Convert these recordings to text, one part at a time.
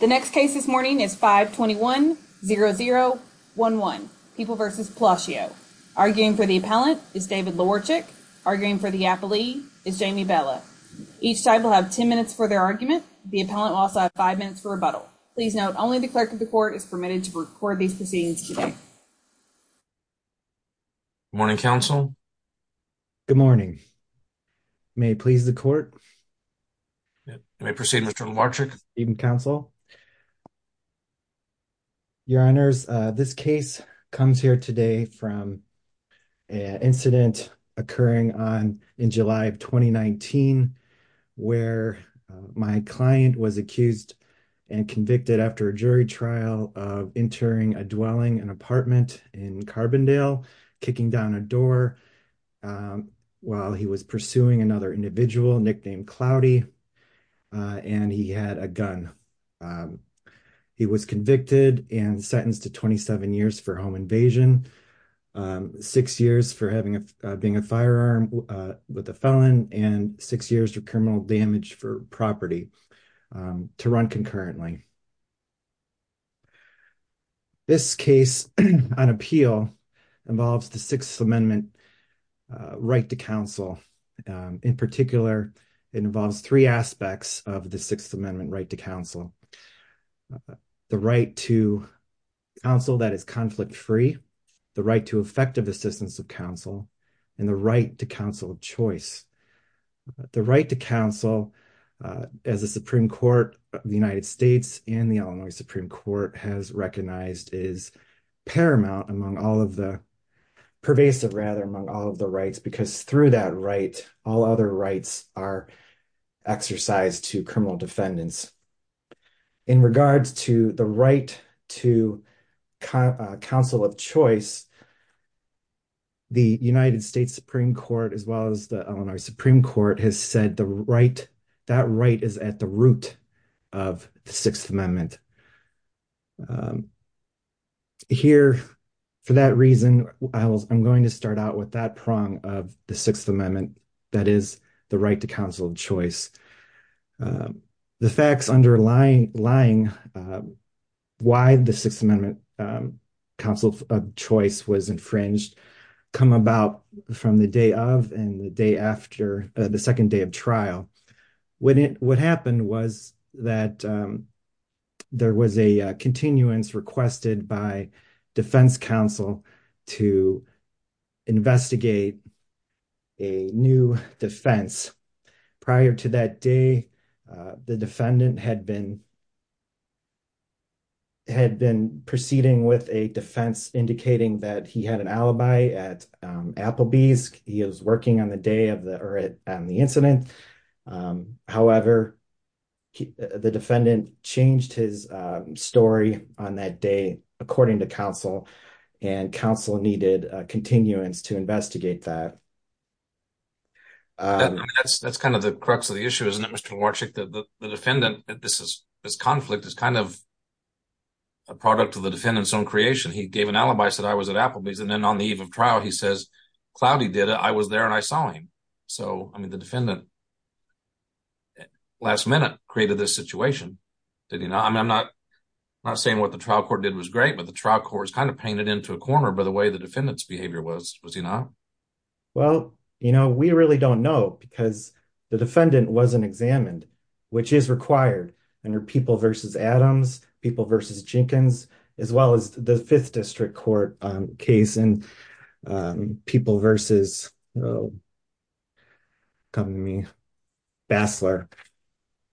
The next case this morning is 521-0011, People v. Palacio. Arguing for the appellant is David Lawarchuk. Arguing for the appellee is Jamie Bella. Each side will have 10 minutes for their argument. The appellant will also have 5 minutes for rebuttal. Please note, only the clerk of the court is permitted to record these proceedings today. Good morning, counsel. Good morning. May it please the court. You may proceed, Mr. Lawarchuk. Good evening, counsel. Your Honors, this case comes here today from an incident occurring in July of 2019 where my client was accused and convicted after a jury trial of entering a dwelling, an apartment in Carbondale, kicking down a door while he was pursuing another individual nicknamed Cloudy and he had a gun. He was convicted and sentenced to 27 years for home invasion, six years for being a firearm with a felon, and six years for criminal damage for property to run concurrently. This case on appeal involves the Sixth Amendment right to counsel. In particular, it involves three aspects of the Sixth Amendment right to counsel. The right to counsel that is conflict-free, the right to effective assistance of counsel, and the right to counsel of choice. The right to counsel, as the Supreme Court of the United States and the Illinois Supreme Court has recognized, is paramount among all of the—pervasive, rather, among all of the other rights are exercised to criminal defendants. In regards to the right to counsel of choice, the United States Supreme Court, as well as the Illinois Supreme Court, has said that right is at the root of the Sixth Amendment. Here, for that reason, I'm going to start out with that prong of the Sixth Amendment, that is, the right to counsel of choice. The facts underlying why the Sixth Amendment counsel of choice was infringed come about from the day of and the day after, the second day of trial. When it—what happened was that there was a continuance requested by defense counsel to investigate a new defense. Prior to that day, the defendant had been—had been proceeding with a defense indicating that he had an alibi at Applebee's. He was working on the day of the—or on the incident. However, the defendant changed his story on that day, according to counsel, and counsel needed continuance to investigate that. That's kind of the crux of the issue, isn't it, Mr. Warczyk? The defendant—this is—this conflict is kind of a product of the defendant's own creation. He gave an alibi, said, I was at Applebee's, and then on the eve of trial, he says, cloudy did it, I was there, and I saw him. So, I mean, the defendant, last minute, created this situation, did he not? I mean, I'm not—I'm not saying what the trial court did was great, but the trial court is kind of painted into a corner by the way the defendant's behavior was, was he not? Well, you know, we really don't know because the defendant wasn't examined, which is required under People v. Adams, People v. Jenkins, as well as the Fifth District Court case, and People v. Basler.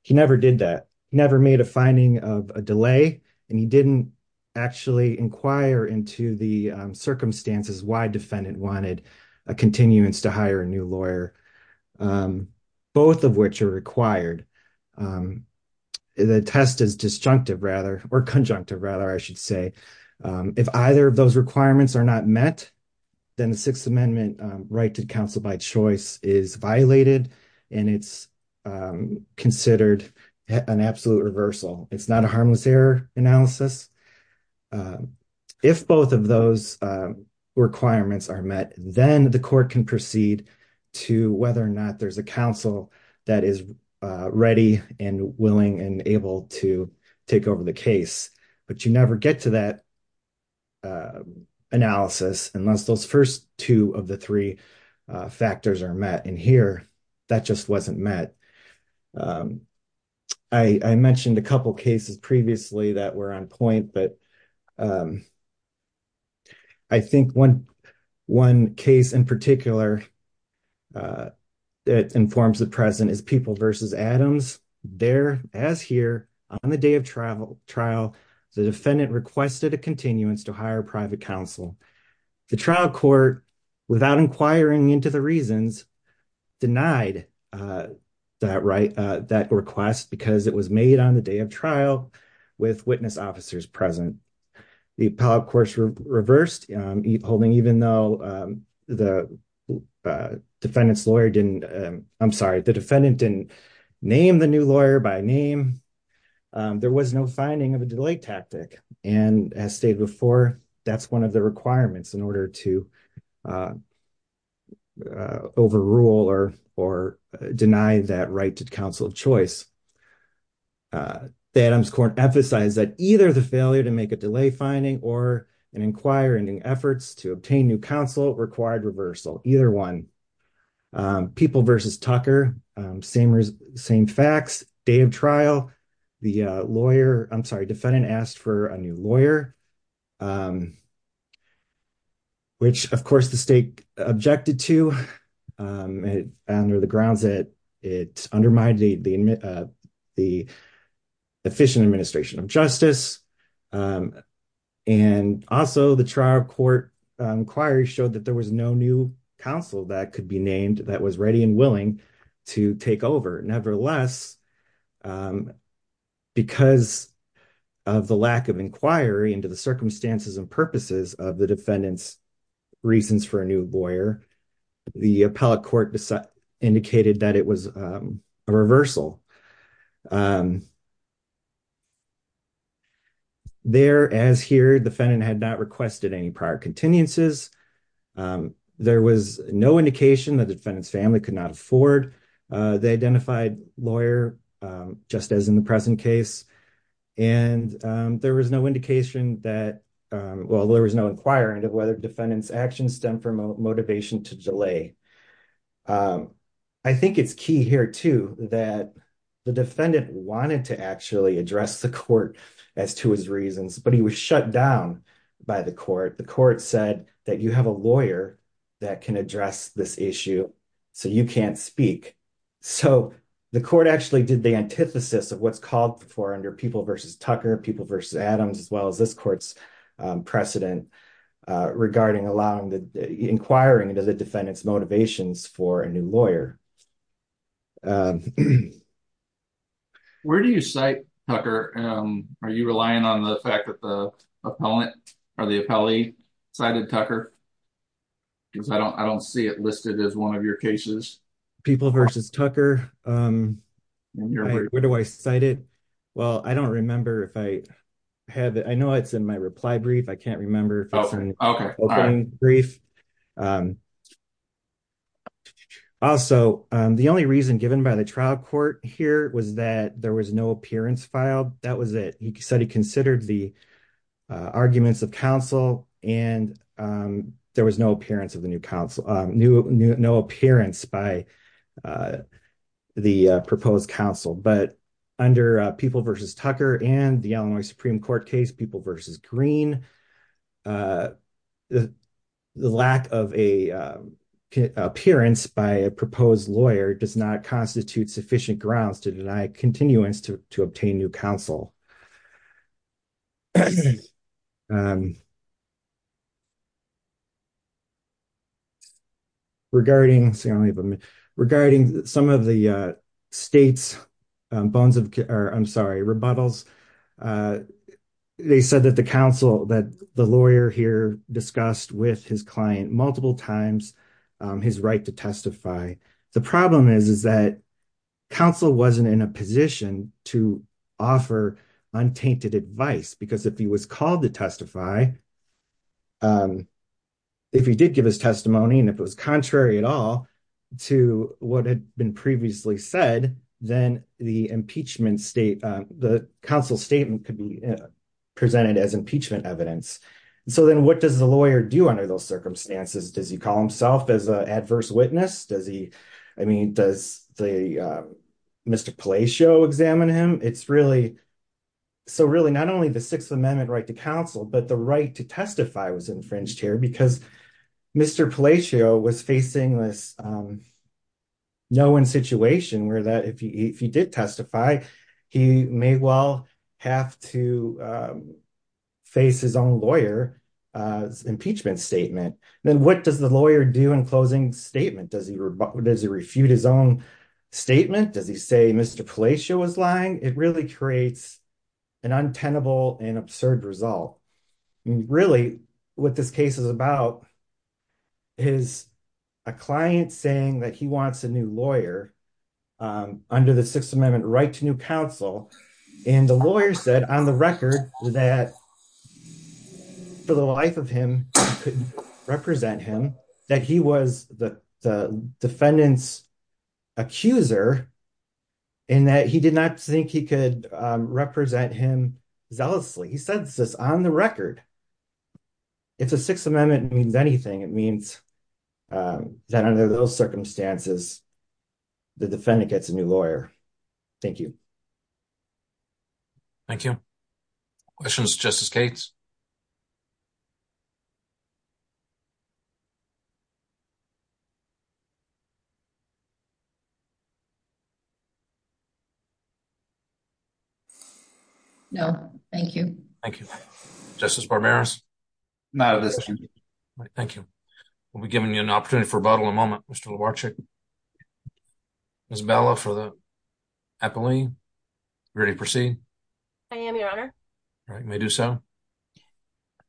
He never did that, never made a finding of a delay, and he didn't actually inquire into the circumstances why a defendant wanted a continuance to hire a new lawyer, both of which are required. The test is disjunctive, rather, or conjunctive, rather, I should say. If either of those requirements are not met, then the Sixth Amendment right to counsel by choice is violated, and it's considered an absolute reversal. It's not a harmless error analysis. If both of those requirements are met, then the court can proceed to whether or not there's a counsel that is ready and willing and able to take over the case, but you never get to that analysis unless those first two of the three factors are met, and here, that just wasn't met. I mentioned a couple cases previously that were on point, but I think one case in particular that informs the present is People v. Adams. There, as here, on the day of trial, the defendant requested a continuance to hire private counsel. The trial court, without inquiring into the reasons, denied that request because it was made on the day of trial with witness officers present. The appellate court reversed holding even though the defendant's lawyer didn't, I'm sorry, the defendant didn't name the new lawyer by name. There was no finding of a delay tactic, and as stated before, that's one of the requirements in order to overrule or deny that right to counsel of choice. The Adams court emphasized that either the failure to make a delay finding or in inquiring in efforts to obtain new counsel required reversal, either one. People v. Tucker, same facts, day of trial, the lawyer, I'm sorry, defendant asked for a new lawyer, which, of course, the state objected to under the grounds that it undermined the efficient administration of justice, and also the trial court inquiry showed that there was no new counsel that could be named that was ready and willing to take over. Nevertheless, because of the lack of inquiry into the circumstances and purposes of the reversal, there, as here, defendant had not requested any prior continuances, there was no indication that the defendant's family could not afford the identified lawyer, just as in the present case, and there was no indication that, well, there was no inquiring of whether defendant's actions stem from a motivation to delay. I think it's key here, too, that the defendant wanted to actually address the court as to his reasons, but he was shut down by the court. The court said that you have a lawyer that can address this issue, so you can't speak. So the court actually did the antithesis of what's called for under People v. Tucker, People v. Adams, as well as this court's precedent regarding inquiring into the defendant's motivations for a new lawyer. Where do you cite, Tucker? Are you relying on the fact that the appellant or the appellee cited Tucker? Because I don't see it listed as one of your cases. People v. Tucker, where do I cite it? Well, I don't remember if I have it. I know it's in my brief. Also, the only reason given by the trial court here was that there was no appearance filed. That was it. He said he considered the arguments of counsel, and there was no appearance by the proposed counsel. But under People v. Tucker and the Illinois Supreme Court case, People v. Green, the lack of an appearance by a proposed lawyer does not constitute sufficient grounds to deny continuance to obtain new counsel. Regarding some of the state's bones of, I'm sorry, rebuttals, they said that the counsel that the lawyer here discussed with his client multiple times his right to testify. The problem is that counsel wasn't in a position to offer untainted advice. Because if he was called to testify, if he did give his testimony, and if it was contrary at all to what had been previously said, then the counsel's statement could be presented as impeachment evidence. So then what does the lawyer do under those circumstances? Does he call himself as an Mr. Palacio, examine him? So really, not only the Sixth Amendment right to counsel, but the right to testify was infringed here because Mr. Palacio was facing this no one situation where if he did testify, he may well have to face his own lawyer's impeachment statement. Then what does the lawyer do in closing statement? Does he refute his own statement? Does he say Mr. Palacio was lying? It really creates an untenable and absurd result. I mean, really, what this case is about is a client saying that he wants a new lawyer under the Sixth Amendment right to new counsel. And the lawyer said on the record that he did not think for the life of him, he could represent him, that he was the defendant's accuser, and that he did not think he could represent him zealously. He said this on the record. If the Sixth Amendment means anything, it means that under those circumstances, the defendant gets a new lawyer. Thank you. Thank you. Questions, Justice Cates? No, thank you. Thank you. Justice Barberas? No, thank you. We'll be giving you an opportunity for a bottle in a moment. Mr. Lubarczyk. Ms. Bella for the epiline. Ready to proceed? I am, Your Honor. All right, you may do so.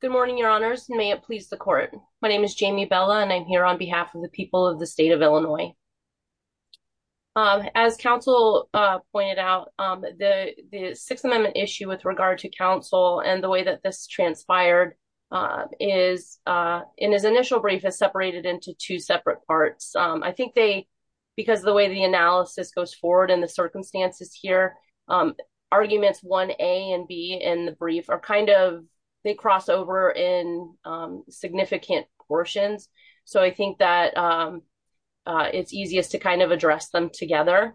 Good morning, Your Honors. May it please the court. My name is Jamie Bella, and I'm here on behalf of the people of the state of Illinois. As counsel pointed out, the Sixth Amendment issue with regard to counsel and the way that this transpired is, in his initial brief, has separated into two separate parts. I think they, because of the way the analysis goes forward and the circumstances here, arguments 1A and B in the brief are kind of, they cross over in significant portions. So I think that it's easiest to kind of address them together.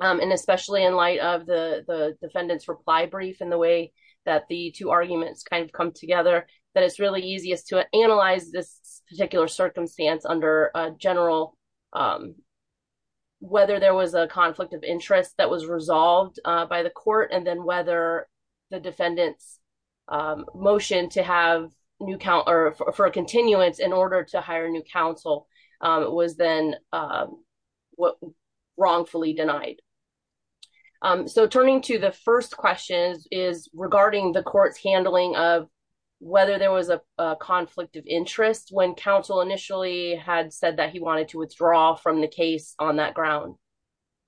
And especially in light of the defendant's reply brief and the way that the two arguments kind of come together, that it's really easiest to analyze this particular circumstance under a general, whether there was a conflict of interest that was resolved by the court, and then whether the defendant's motion to have new, or for a continuance in order to hire new counsel was then wrongfully denied. So turning to the first question is regarding the court's handling of whether there was a conflict of interest when counsel initially had said that he wanted to withdraw from the case on that ground.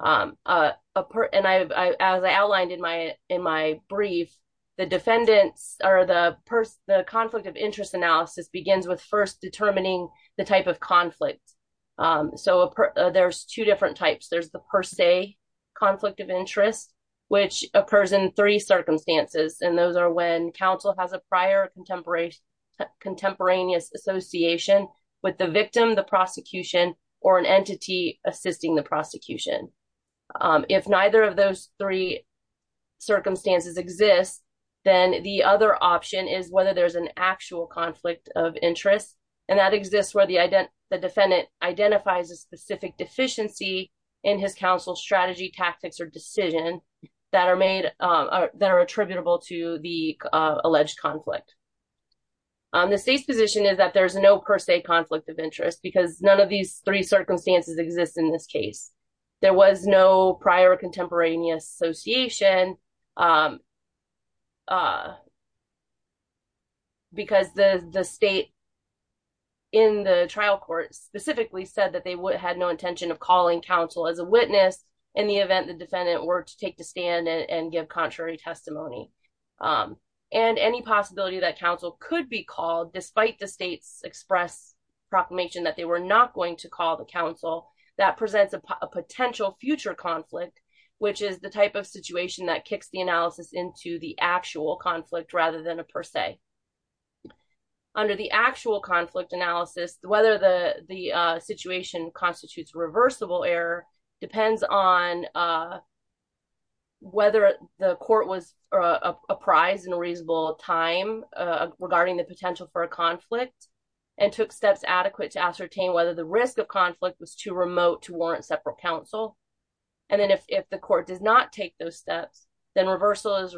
And as I outlined in my brief, the defendant's, or the conflict of interest analysis begins with first determining the type of conflict. So there's two different types. There's the per se conflict of interest, which occurs in three circumstances, and those are when counsel has a prior contemporaneous association with the victim, the prosecution, or an entity assisting the prosecution. If neither of those three circumstances exist, then the other option is whether there's an actual conflict of interest, and that exists where the defendant identifies a specific deficiency in his counsel's strategy, tactics, or decision that are made, that are attributable to the alleged conflict. The state's position is that there's no per se conflict of interest because none of these three circumstances exist in this case. There was no prior contemporaneous association because the state in the trial court specifically said that they had no intention of calling counsel as a witness in the event the defendant were to take the stand and give contrary testimony. And any possibility that counsel could be called despite the state's express proclamation that they were not going to call the counsel, that presents a potential future conflict, which is the type of situation that kicks the analysis into the actual conflict rather than per se. Under the actual conflict analysis, whether the situation constitutes reversible error depends on whether the court was apprised in a reasonable time regarding the potential for a conflict and took steps adequate to ascertain whether the risk of conflict was too remote to warrant separate counsel. And then if the court does not take those steps, then reversal is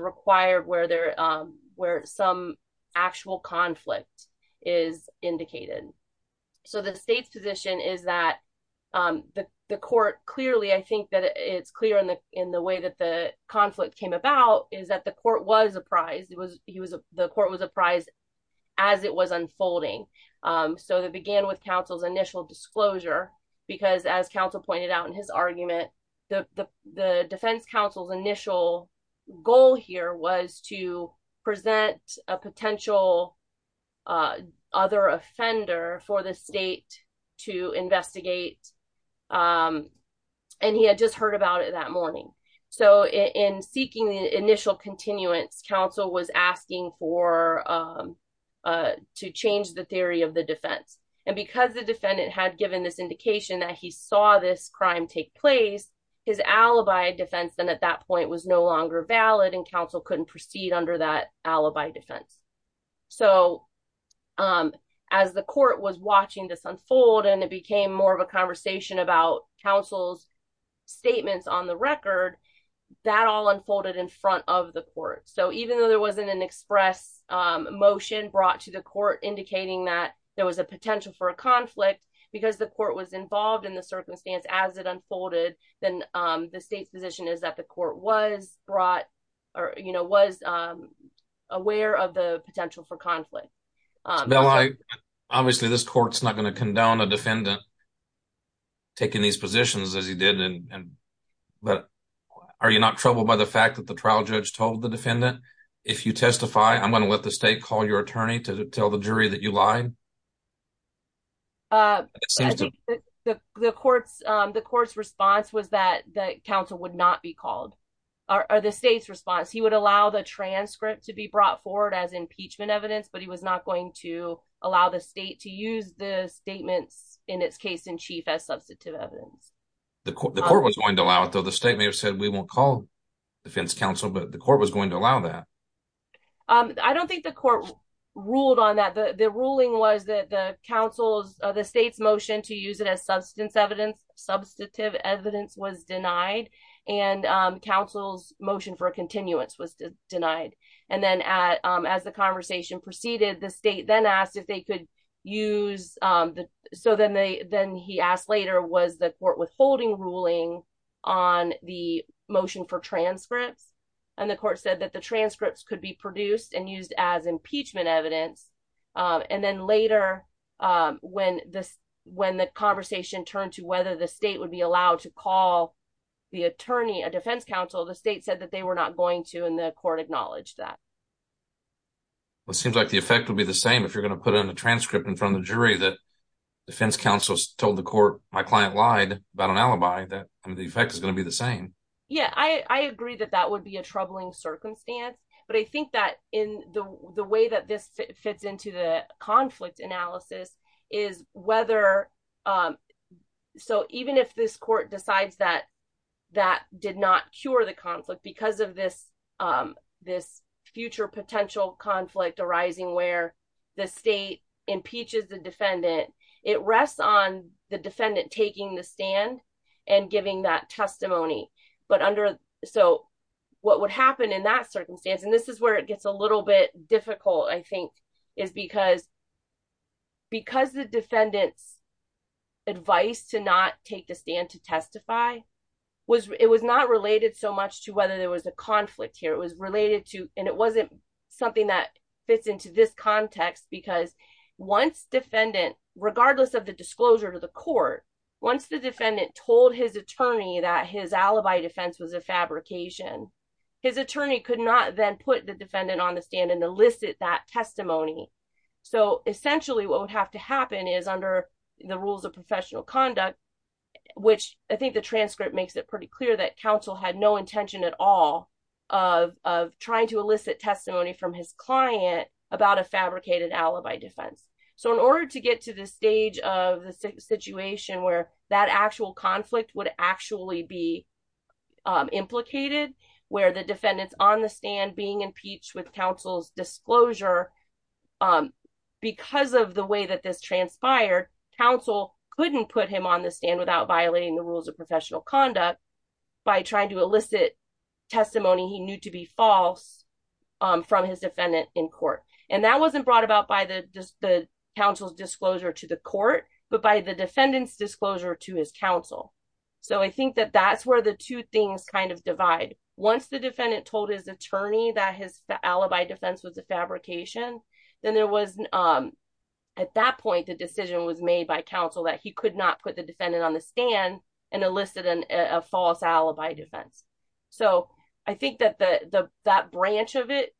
actual conflict is indicated. So the state's position is that the court clearly, I think that it's clear in the way that the conflict came about, is that the court was apprised as it was unfolding. So that began with counsel's initial disclosure because as counsel pointed out in his potential other offender for the state to investigate and he had just heard about it that morning. So in seeking the initial continuance, counsel was asking to change the theory of the defense. And because the defendant had given this indication that he saw this crime take place, his alibi defense then at that point was no longer valid and counsel couldn't proceed under that alibi defense. So as the court was watching this unfold and it became more of a conversation about counsel's statements on the record, that all unfolded in front of the court. So even though there wasn't an express motion brought to the court indicating that there was a potential for a conflict because the court was involved in the you know was aware of the potential for conflict. Obviously this court's not going to condone a defendant taking these positions as he did. But are you not troubled by the fact that the trial judge told the defendant if you testify I'm going to let the state call your attorney to tell the jury that you lied? The court's response was that that counsel would not be called or the state's would allow the transcript to be brought forward as impeachment evidence but he was not going to allow the state to use the statements in its case in chief as substantive evidence. The court was going to allow it though. The state may have said we won't call defense counsel but the court was going to allow that. I don't think the court ruled on that. The ruling was that the state's motion to use it as substance evidence, substantive evidence was denied and counsel's motion for a continuance was denied. And then as the conversation proceeded the state then asked if they could use, so then they then he asked later was the court withholding ruling on the motion for transcripts and the court said that the transcripts could be produced and used as impeachment evidence. And then later when this when the conversation turned to whether the state would be allowed to call the attorney, a defense counsel, the state said that they were not going to and the court acknowledged that. Well it seems like the effect would be the same if you're going to put in a transcript in front of the jury that defense counsel told the court my client lied about an alibi that the effect is going to be the same. Yeah I agree that that would be a troubling circumstance but I think that in the way that this fits into the conflict analysis is whether so even if this court decides that that did not cure the conflict because of this future potential conflict arising where the state impeaches the defendant it rests on defendant taking the stand and giving that testimony but under so what would happen in that circumstance and this is where it gets a little bit difficult I think is because because the defendant's advice to not take the stand to testify was it was not related so much to whether there was a conflict here it was related to and it wasn't something that fits into this context because once defendant regardless of the disclosure to the court once the defendant told his attorney that his alibi defense was a fabrication his attorney could not then put the defendant on the stand and elicit that testimony so essentially what would have to happen is under the rules of professional conduct which I think the transcript makes it pretty clear that counsel had no intention at all of trying to elicit testimony from his client about a fabricated alibi defense so in order to get to the stage of the situation where that actual conflict would actually be implicated where the defendants on the stand being impeached with counsel's disclosure because of the way that this transpired counsel couldn't put him on the stand without violating the rules of professional conduct by trying to elicit testimony he knew to be false from his defendant in court and that wasn't brought about by the just the counsel's disclosure to the court but by the defendant's disclosure to his counsel so I think that that's where the two things kind of divide once the defendant told his attorney that his alibi defense was a fabrication then there was at that point the decision was made that he could not put the defendant on the stand and elicit a false alibi defense so I think that that branch of it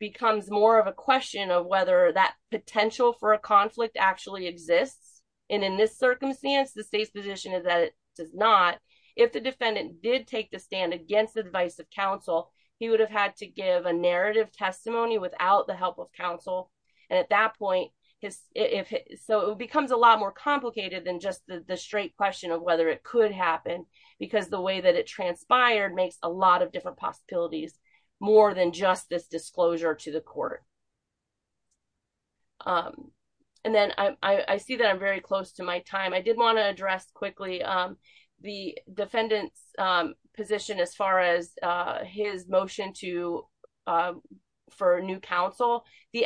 becomes more of a question of whether that potential for a conflict actually exists and in this circumstance the state's position is that it does not if the defendant did take the stand against the advice of counsel he would have had to give a narrative testimony without the help of counsel and at that point his if so it becomes a lot more complicated than just the the straight question of whether it could happen because the way that it transpired makes a lot of different possibilities more than just this disclosure to the court um and then I I see that I'm very close to my time I did want to address quickly um the the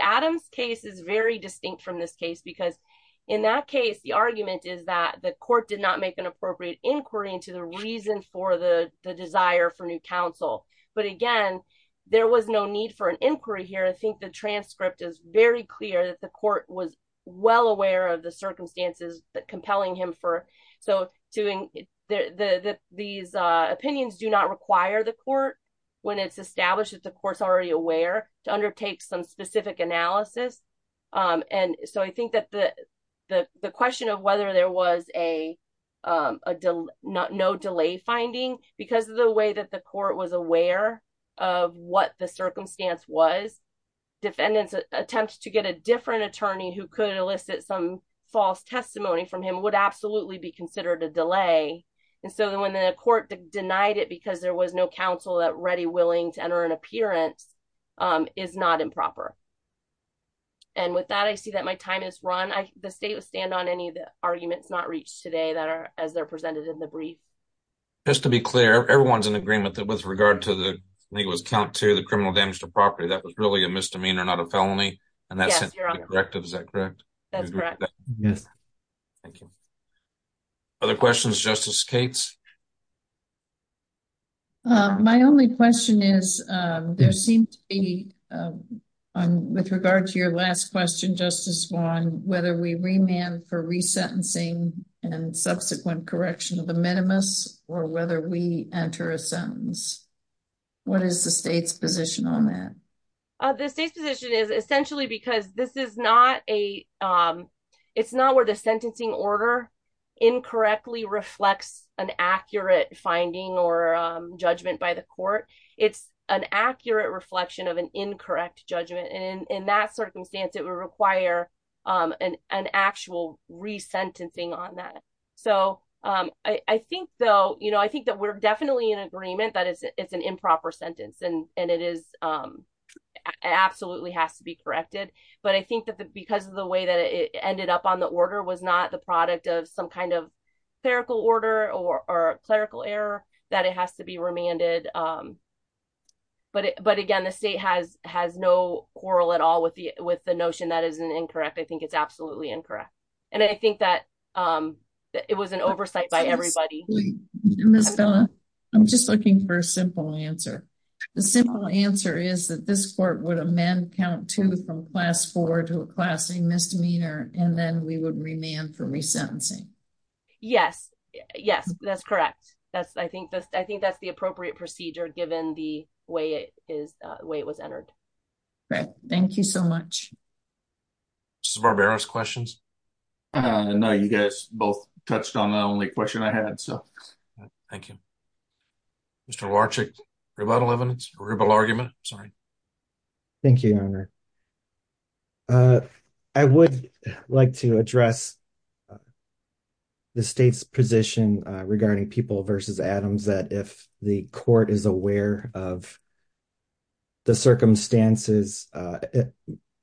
Adams case is very distinct from this case because in that case the argument is that the court did not make an appropriate inquiry into the reason for the the desire for new counsel but again there was no need for an inquiry here I think the transcript is very clear that the court was well aware of the circumstances compelling him for so doing the the these uh opinions do require the court when it's established that the court's already aware to undertake some specific analysis um and so I think that the the the question of whether there was a um a no delay finding because of the way that the court was aware of what the circumstance was defendants attempt to get a different attorney who could elicit some false testimony from him would absolutely be considered a delay and so when the court denied it because there was no counsel that ready willing to enter an appearance um is not improper and with that I see that my time is run I the state would stand on any of the arguments not reached today that are as they're presented in the brief just to be clear everyone's in agreement that with regard to the legal account to the criminal damage to property that was really a misdemeanor not a felony and that's correct is that correct that's correct yes thank you other questions justice kate's uh my only question is um there seems to be um with regard to your last question justice one whether we remand for resentencing and subsequent correction of the minimus or whether we enter a sentence what is the state's position on that uh the state's position is essentially because this is not a um it's not where the sentencing order incorrectly reflects an accurate finding or judgment by the court it's an accurate reflection of an incorrect judgment and in that circumstance it would require um an actual resentencing on that so um I I think though you know I think that we're definitely in agreement that it's it's an improper sentence and and it is um it absolutely has to be corrected but I think that because of the way that it ended up on the order was not the product of some kind of clerical order or clerical error that it has to be remanded um but but again the state has has no quarrel at all with the with the notion that is an incorrect I think it's absolutely incorrect and I think that um it was an oversight by everybody Miss Bella I'm just looking for a simple answer the simple answer is that this court would amend count two from class four to a class a misdemeanor and then we would remand for resentencing yes yes that's correct that's I think that's I think that's the appropriate procedure given the way it is uh the way it was entered okay thank you so much just barbarous questions uh no you guys both touched on the only question I had so thank you Mr. Larchick rebuttal evidence rebuttal argument sorry thank you your honor uh I would like to address the state's position regarding people versus Adams that if the court is aware of the circumstances uh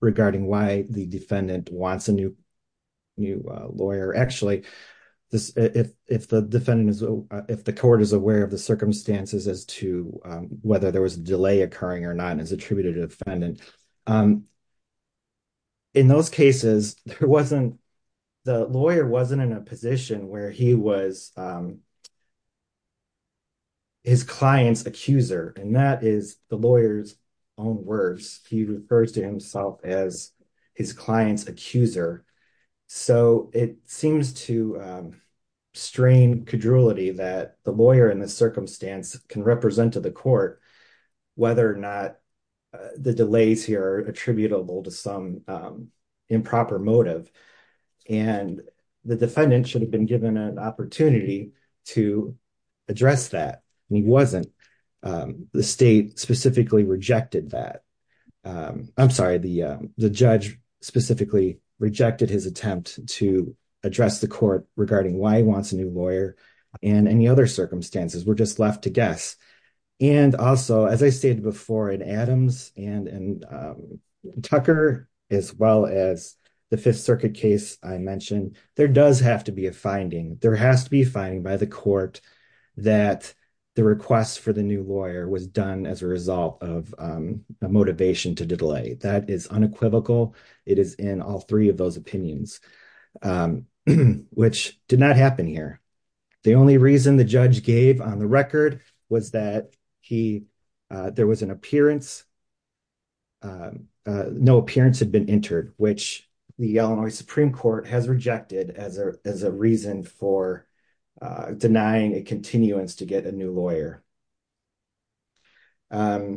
regarding why the defendant wants a new new lawyer actually this if if the defendant is if the court is aware of the circumstances as to whether there was a delay occurring or not as attributed to defendant in those cases there wasn't the lawyer wasn't in a position where he was um his client's accuser and that is the lawyer's own words he refers to himself as his client's accuser so it seems to um strain cajolity that the lawyer in this circumstance can represent to the court whether or not the delays here are attributable to some improper motive and the defendant should have been given an opportunity to address that and he wasn't the state specifically rejected that I'm sorry the the judge specifically rejected his attempt to address the court regarding why he wants a new lawyer and any other circumstances were just left guess and also as I stated before in Adams and and Tucker as well as the Fifth Circuit case I mentioned there does have to be a finding there has to be finding by the court that the request for the new lawyer was done as a result of a motivation to delay that is unequivocal it is in all three of those opinions um which did not happen here the only reason the judge gave on the record was that he there was an appearance no appearance had been entered which the Illinois Supreme Court has rejected as a as a reason for denying a continuance to get a new lawyer and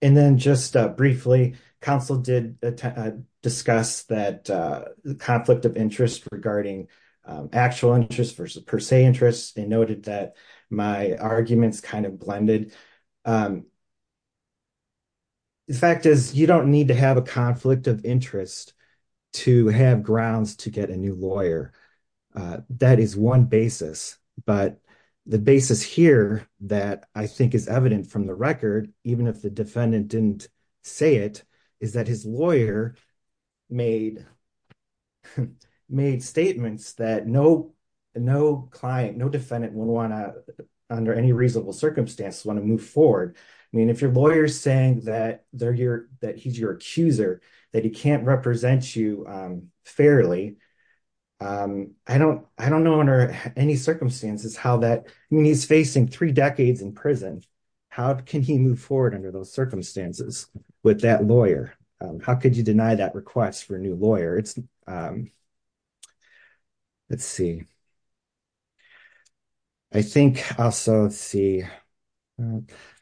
then just briefly counsel did discuss that the conflict of interest regarding actual interest versus per se interest they noted that my arguments kind of blended the fact is you don't need to have a conflict of interest to have grounds to get a new lawyer that is one basis but the basis here that I think is evident from the record even if the defendant didn't say it is that his lawyer made made statements that no no client no defendant would want to under any reasonable circumstances want to move forward I mean if your lawyer's saying that they're your that he's your accuser that he can't represent you um fairly um I don't I don't know under any circumstances how that I mean he's facing three decades in prison how can he move forward under those circumstances with that lawyer how could you deny that request for a new lawyer it's um let's see I think also see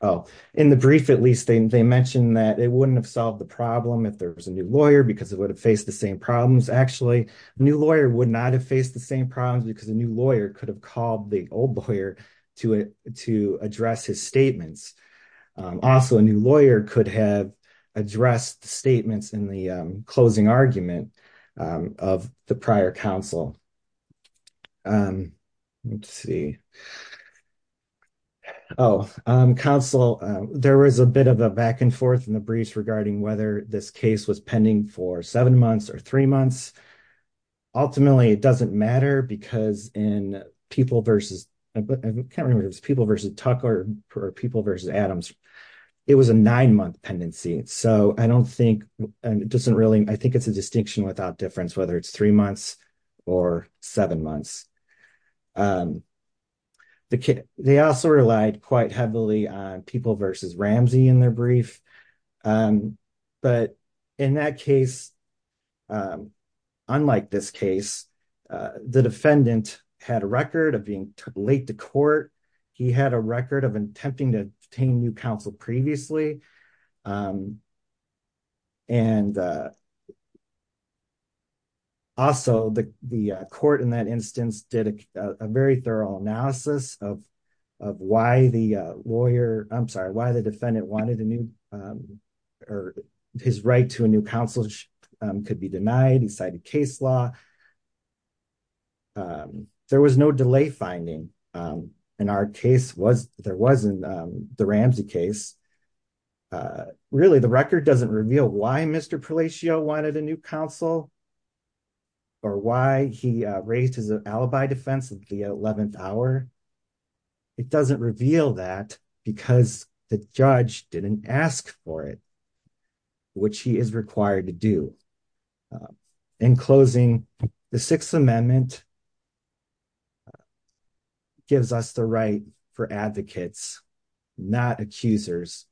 oh in the brief at least they mentioned that it wouldn't have solved the problem if there was a new lawyer because it would have faced the same problems actually new lawyer would not have faced the same problems because a new lawyer could have called the old lawyer to it to address his statements also a new lawyer could have addressed the statements in the closing argument of the prior counsel um let's see oh um counsel there was a bit of a back and forth in the briefs regarding whether this case was pending for seven months or three months ultimately it doesn't matter because in people versus I can't remember it was people versus Tucker or people versus Adams it was a nine-month pendency so I don't think and it doesn't really I think it's a distinction without difference whether it's three months or seven months um the kid they also relied quite heavily on people versus Ramsey in their brief um but in that case um unlike this case uh the defendant had a record of being late to court he had a record of attempting to obtain new counsel previously and uh also the the court in that instance did a very thorough analysis of of why the lawyer I'm sorry why the defendant wanted a new um or his right to a new counsel could be denied he cited case law there was no delay finding um in our case was there wasn't um the Ramsey case uh really the or why he raised his alibi defense of the 11th hour it doesn't reveal that because the judge didn't ask for it which he is required to do in closing the sixth amendment gives us the right for advocates not accusers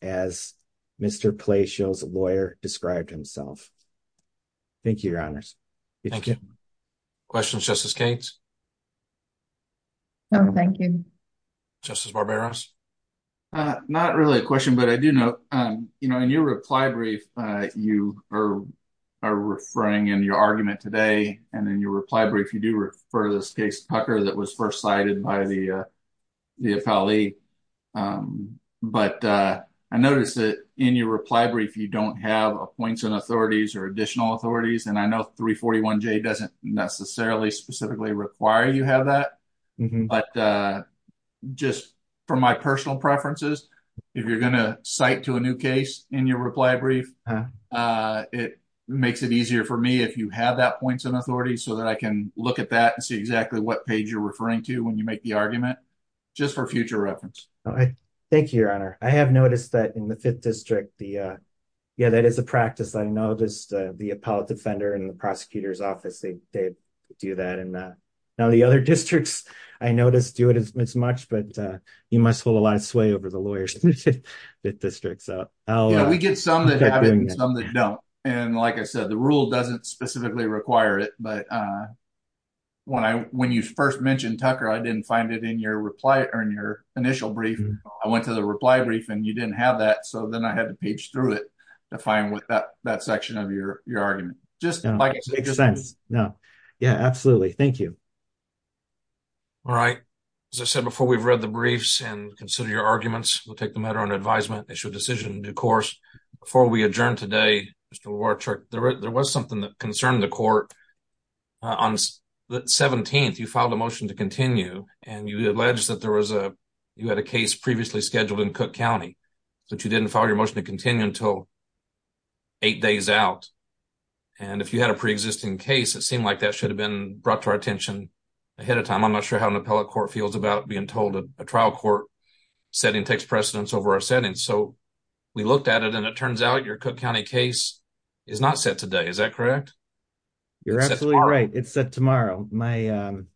as Mr. Palacio's lawyer described himself thank you your honors thank you questions justice Cates no thank you justice Barbaros uh not really a question but I do know um you know in your reply brief uh you are are referring in your argument today and in your reply brief you do refer this case Tucker that was first cited by the uh the affilee um but uh I noticed that in reply brief you don't have a points and authorities or additional authorities and I know 341 j doesn't necessarily specifically require you have that but uh just for my personal preferences if you're gonna cite to a new case in your reply brief uh it makes it easier for me if you have that points and authorities so that I can look at that and see exactly what page you're referring to when you make the argument just for future reference all right thank you your honor I have noticed that in the fifth district the uh yeah that is a practice I noticed uh the appellate defender and the prosecutor's office they they do that and uh now the other districts I noticed do it as much but uh you must hold a lot of sway over the lawyers that district so oh yeah we get some that happen some that don't and like I said the rule doesn't specifically require it but uh when I when you first mentioned Tucker I didn't find it in your reply or in your initial brief I went to the reply brief and you didn't have that so then I had to page through it to find what that that section of your your argument just like it makes sense no yeah absolutely thank you all right as I said before we've read the briefs and consider your arguments we'll take the matter under advisement issue a decision in due course before we adjourn today Mr. Wartrick there was something that concerned the court on the 17th you filed a motion to continue and you alleged that there was a you had a case previously scheduled in Cook County that you didn't follow your motion to continue until eight days out and if you had a pre-existing case it seemed like that should have been brought to our attention ahead of time I'm not sure how an appellate court feels about being told a trial court setting takes precedence over our settings so we looked at it and it turns out your Cook County case is not set today is that correct you're absolutely right it's set tomorrow my um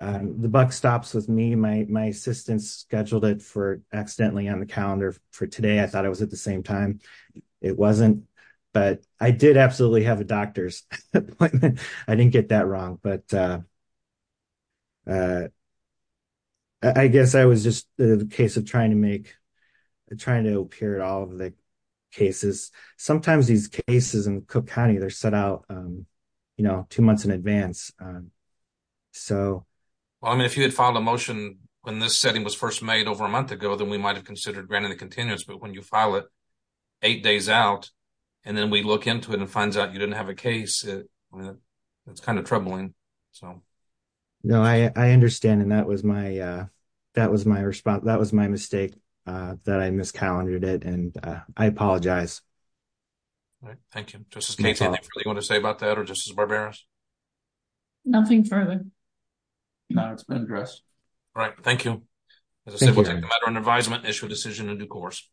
um the buck stops with me my my assistant scheduled it for accidentally on the calendar for today I thought it was at the same time it wasn't but I did absolutely have a doctor's appointment I didn't get that wrong but uh uh I guess I was just the case of trying to make trying to appear at all of the cases sometimes these cases in Cook County they're set out um you know two months in advance um so well I mean if you had filed a motion when this setting was first made over a month ago then we might have considered granting the continuance but when you file it eight days out and then we look into it and finds out you didn't have a case it that's kind of troubling so no I I understand and that was my uh that was my response that was my mistake uh that I miscalculated it and uh I apologize all right thank you just in case anything you want to say about that or just as barbarous nothing further no it's been addressed all right thank you as a matter of advisement issue a decision in due course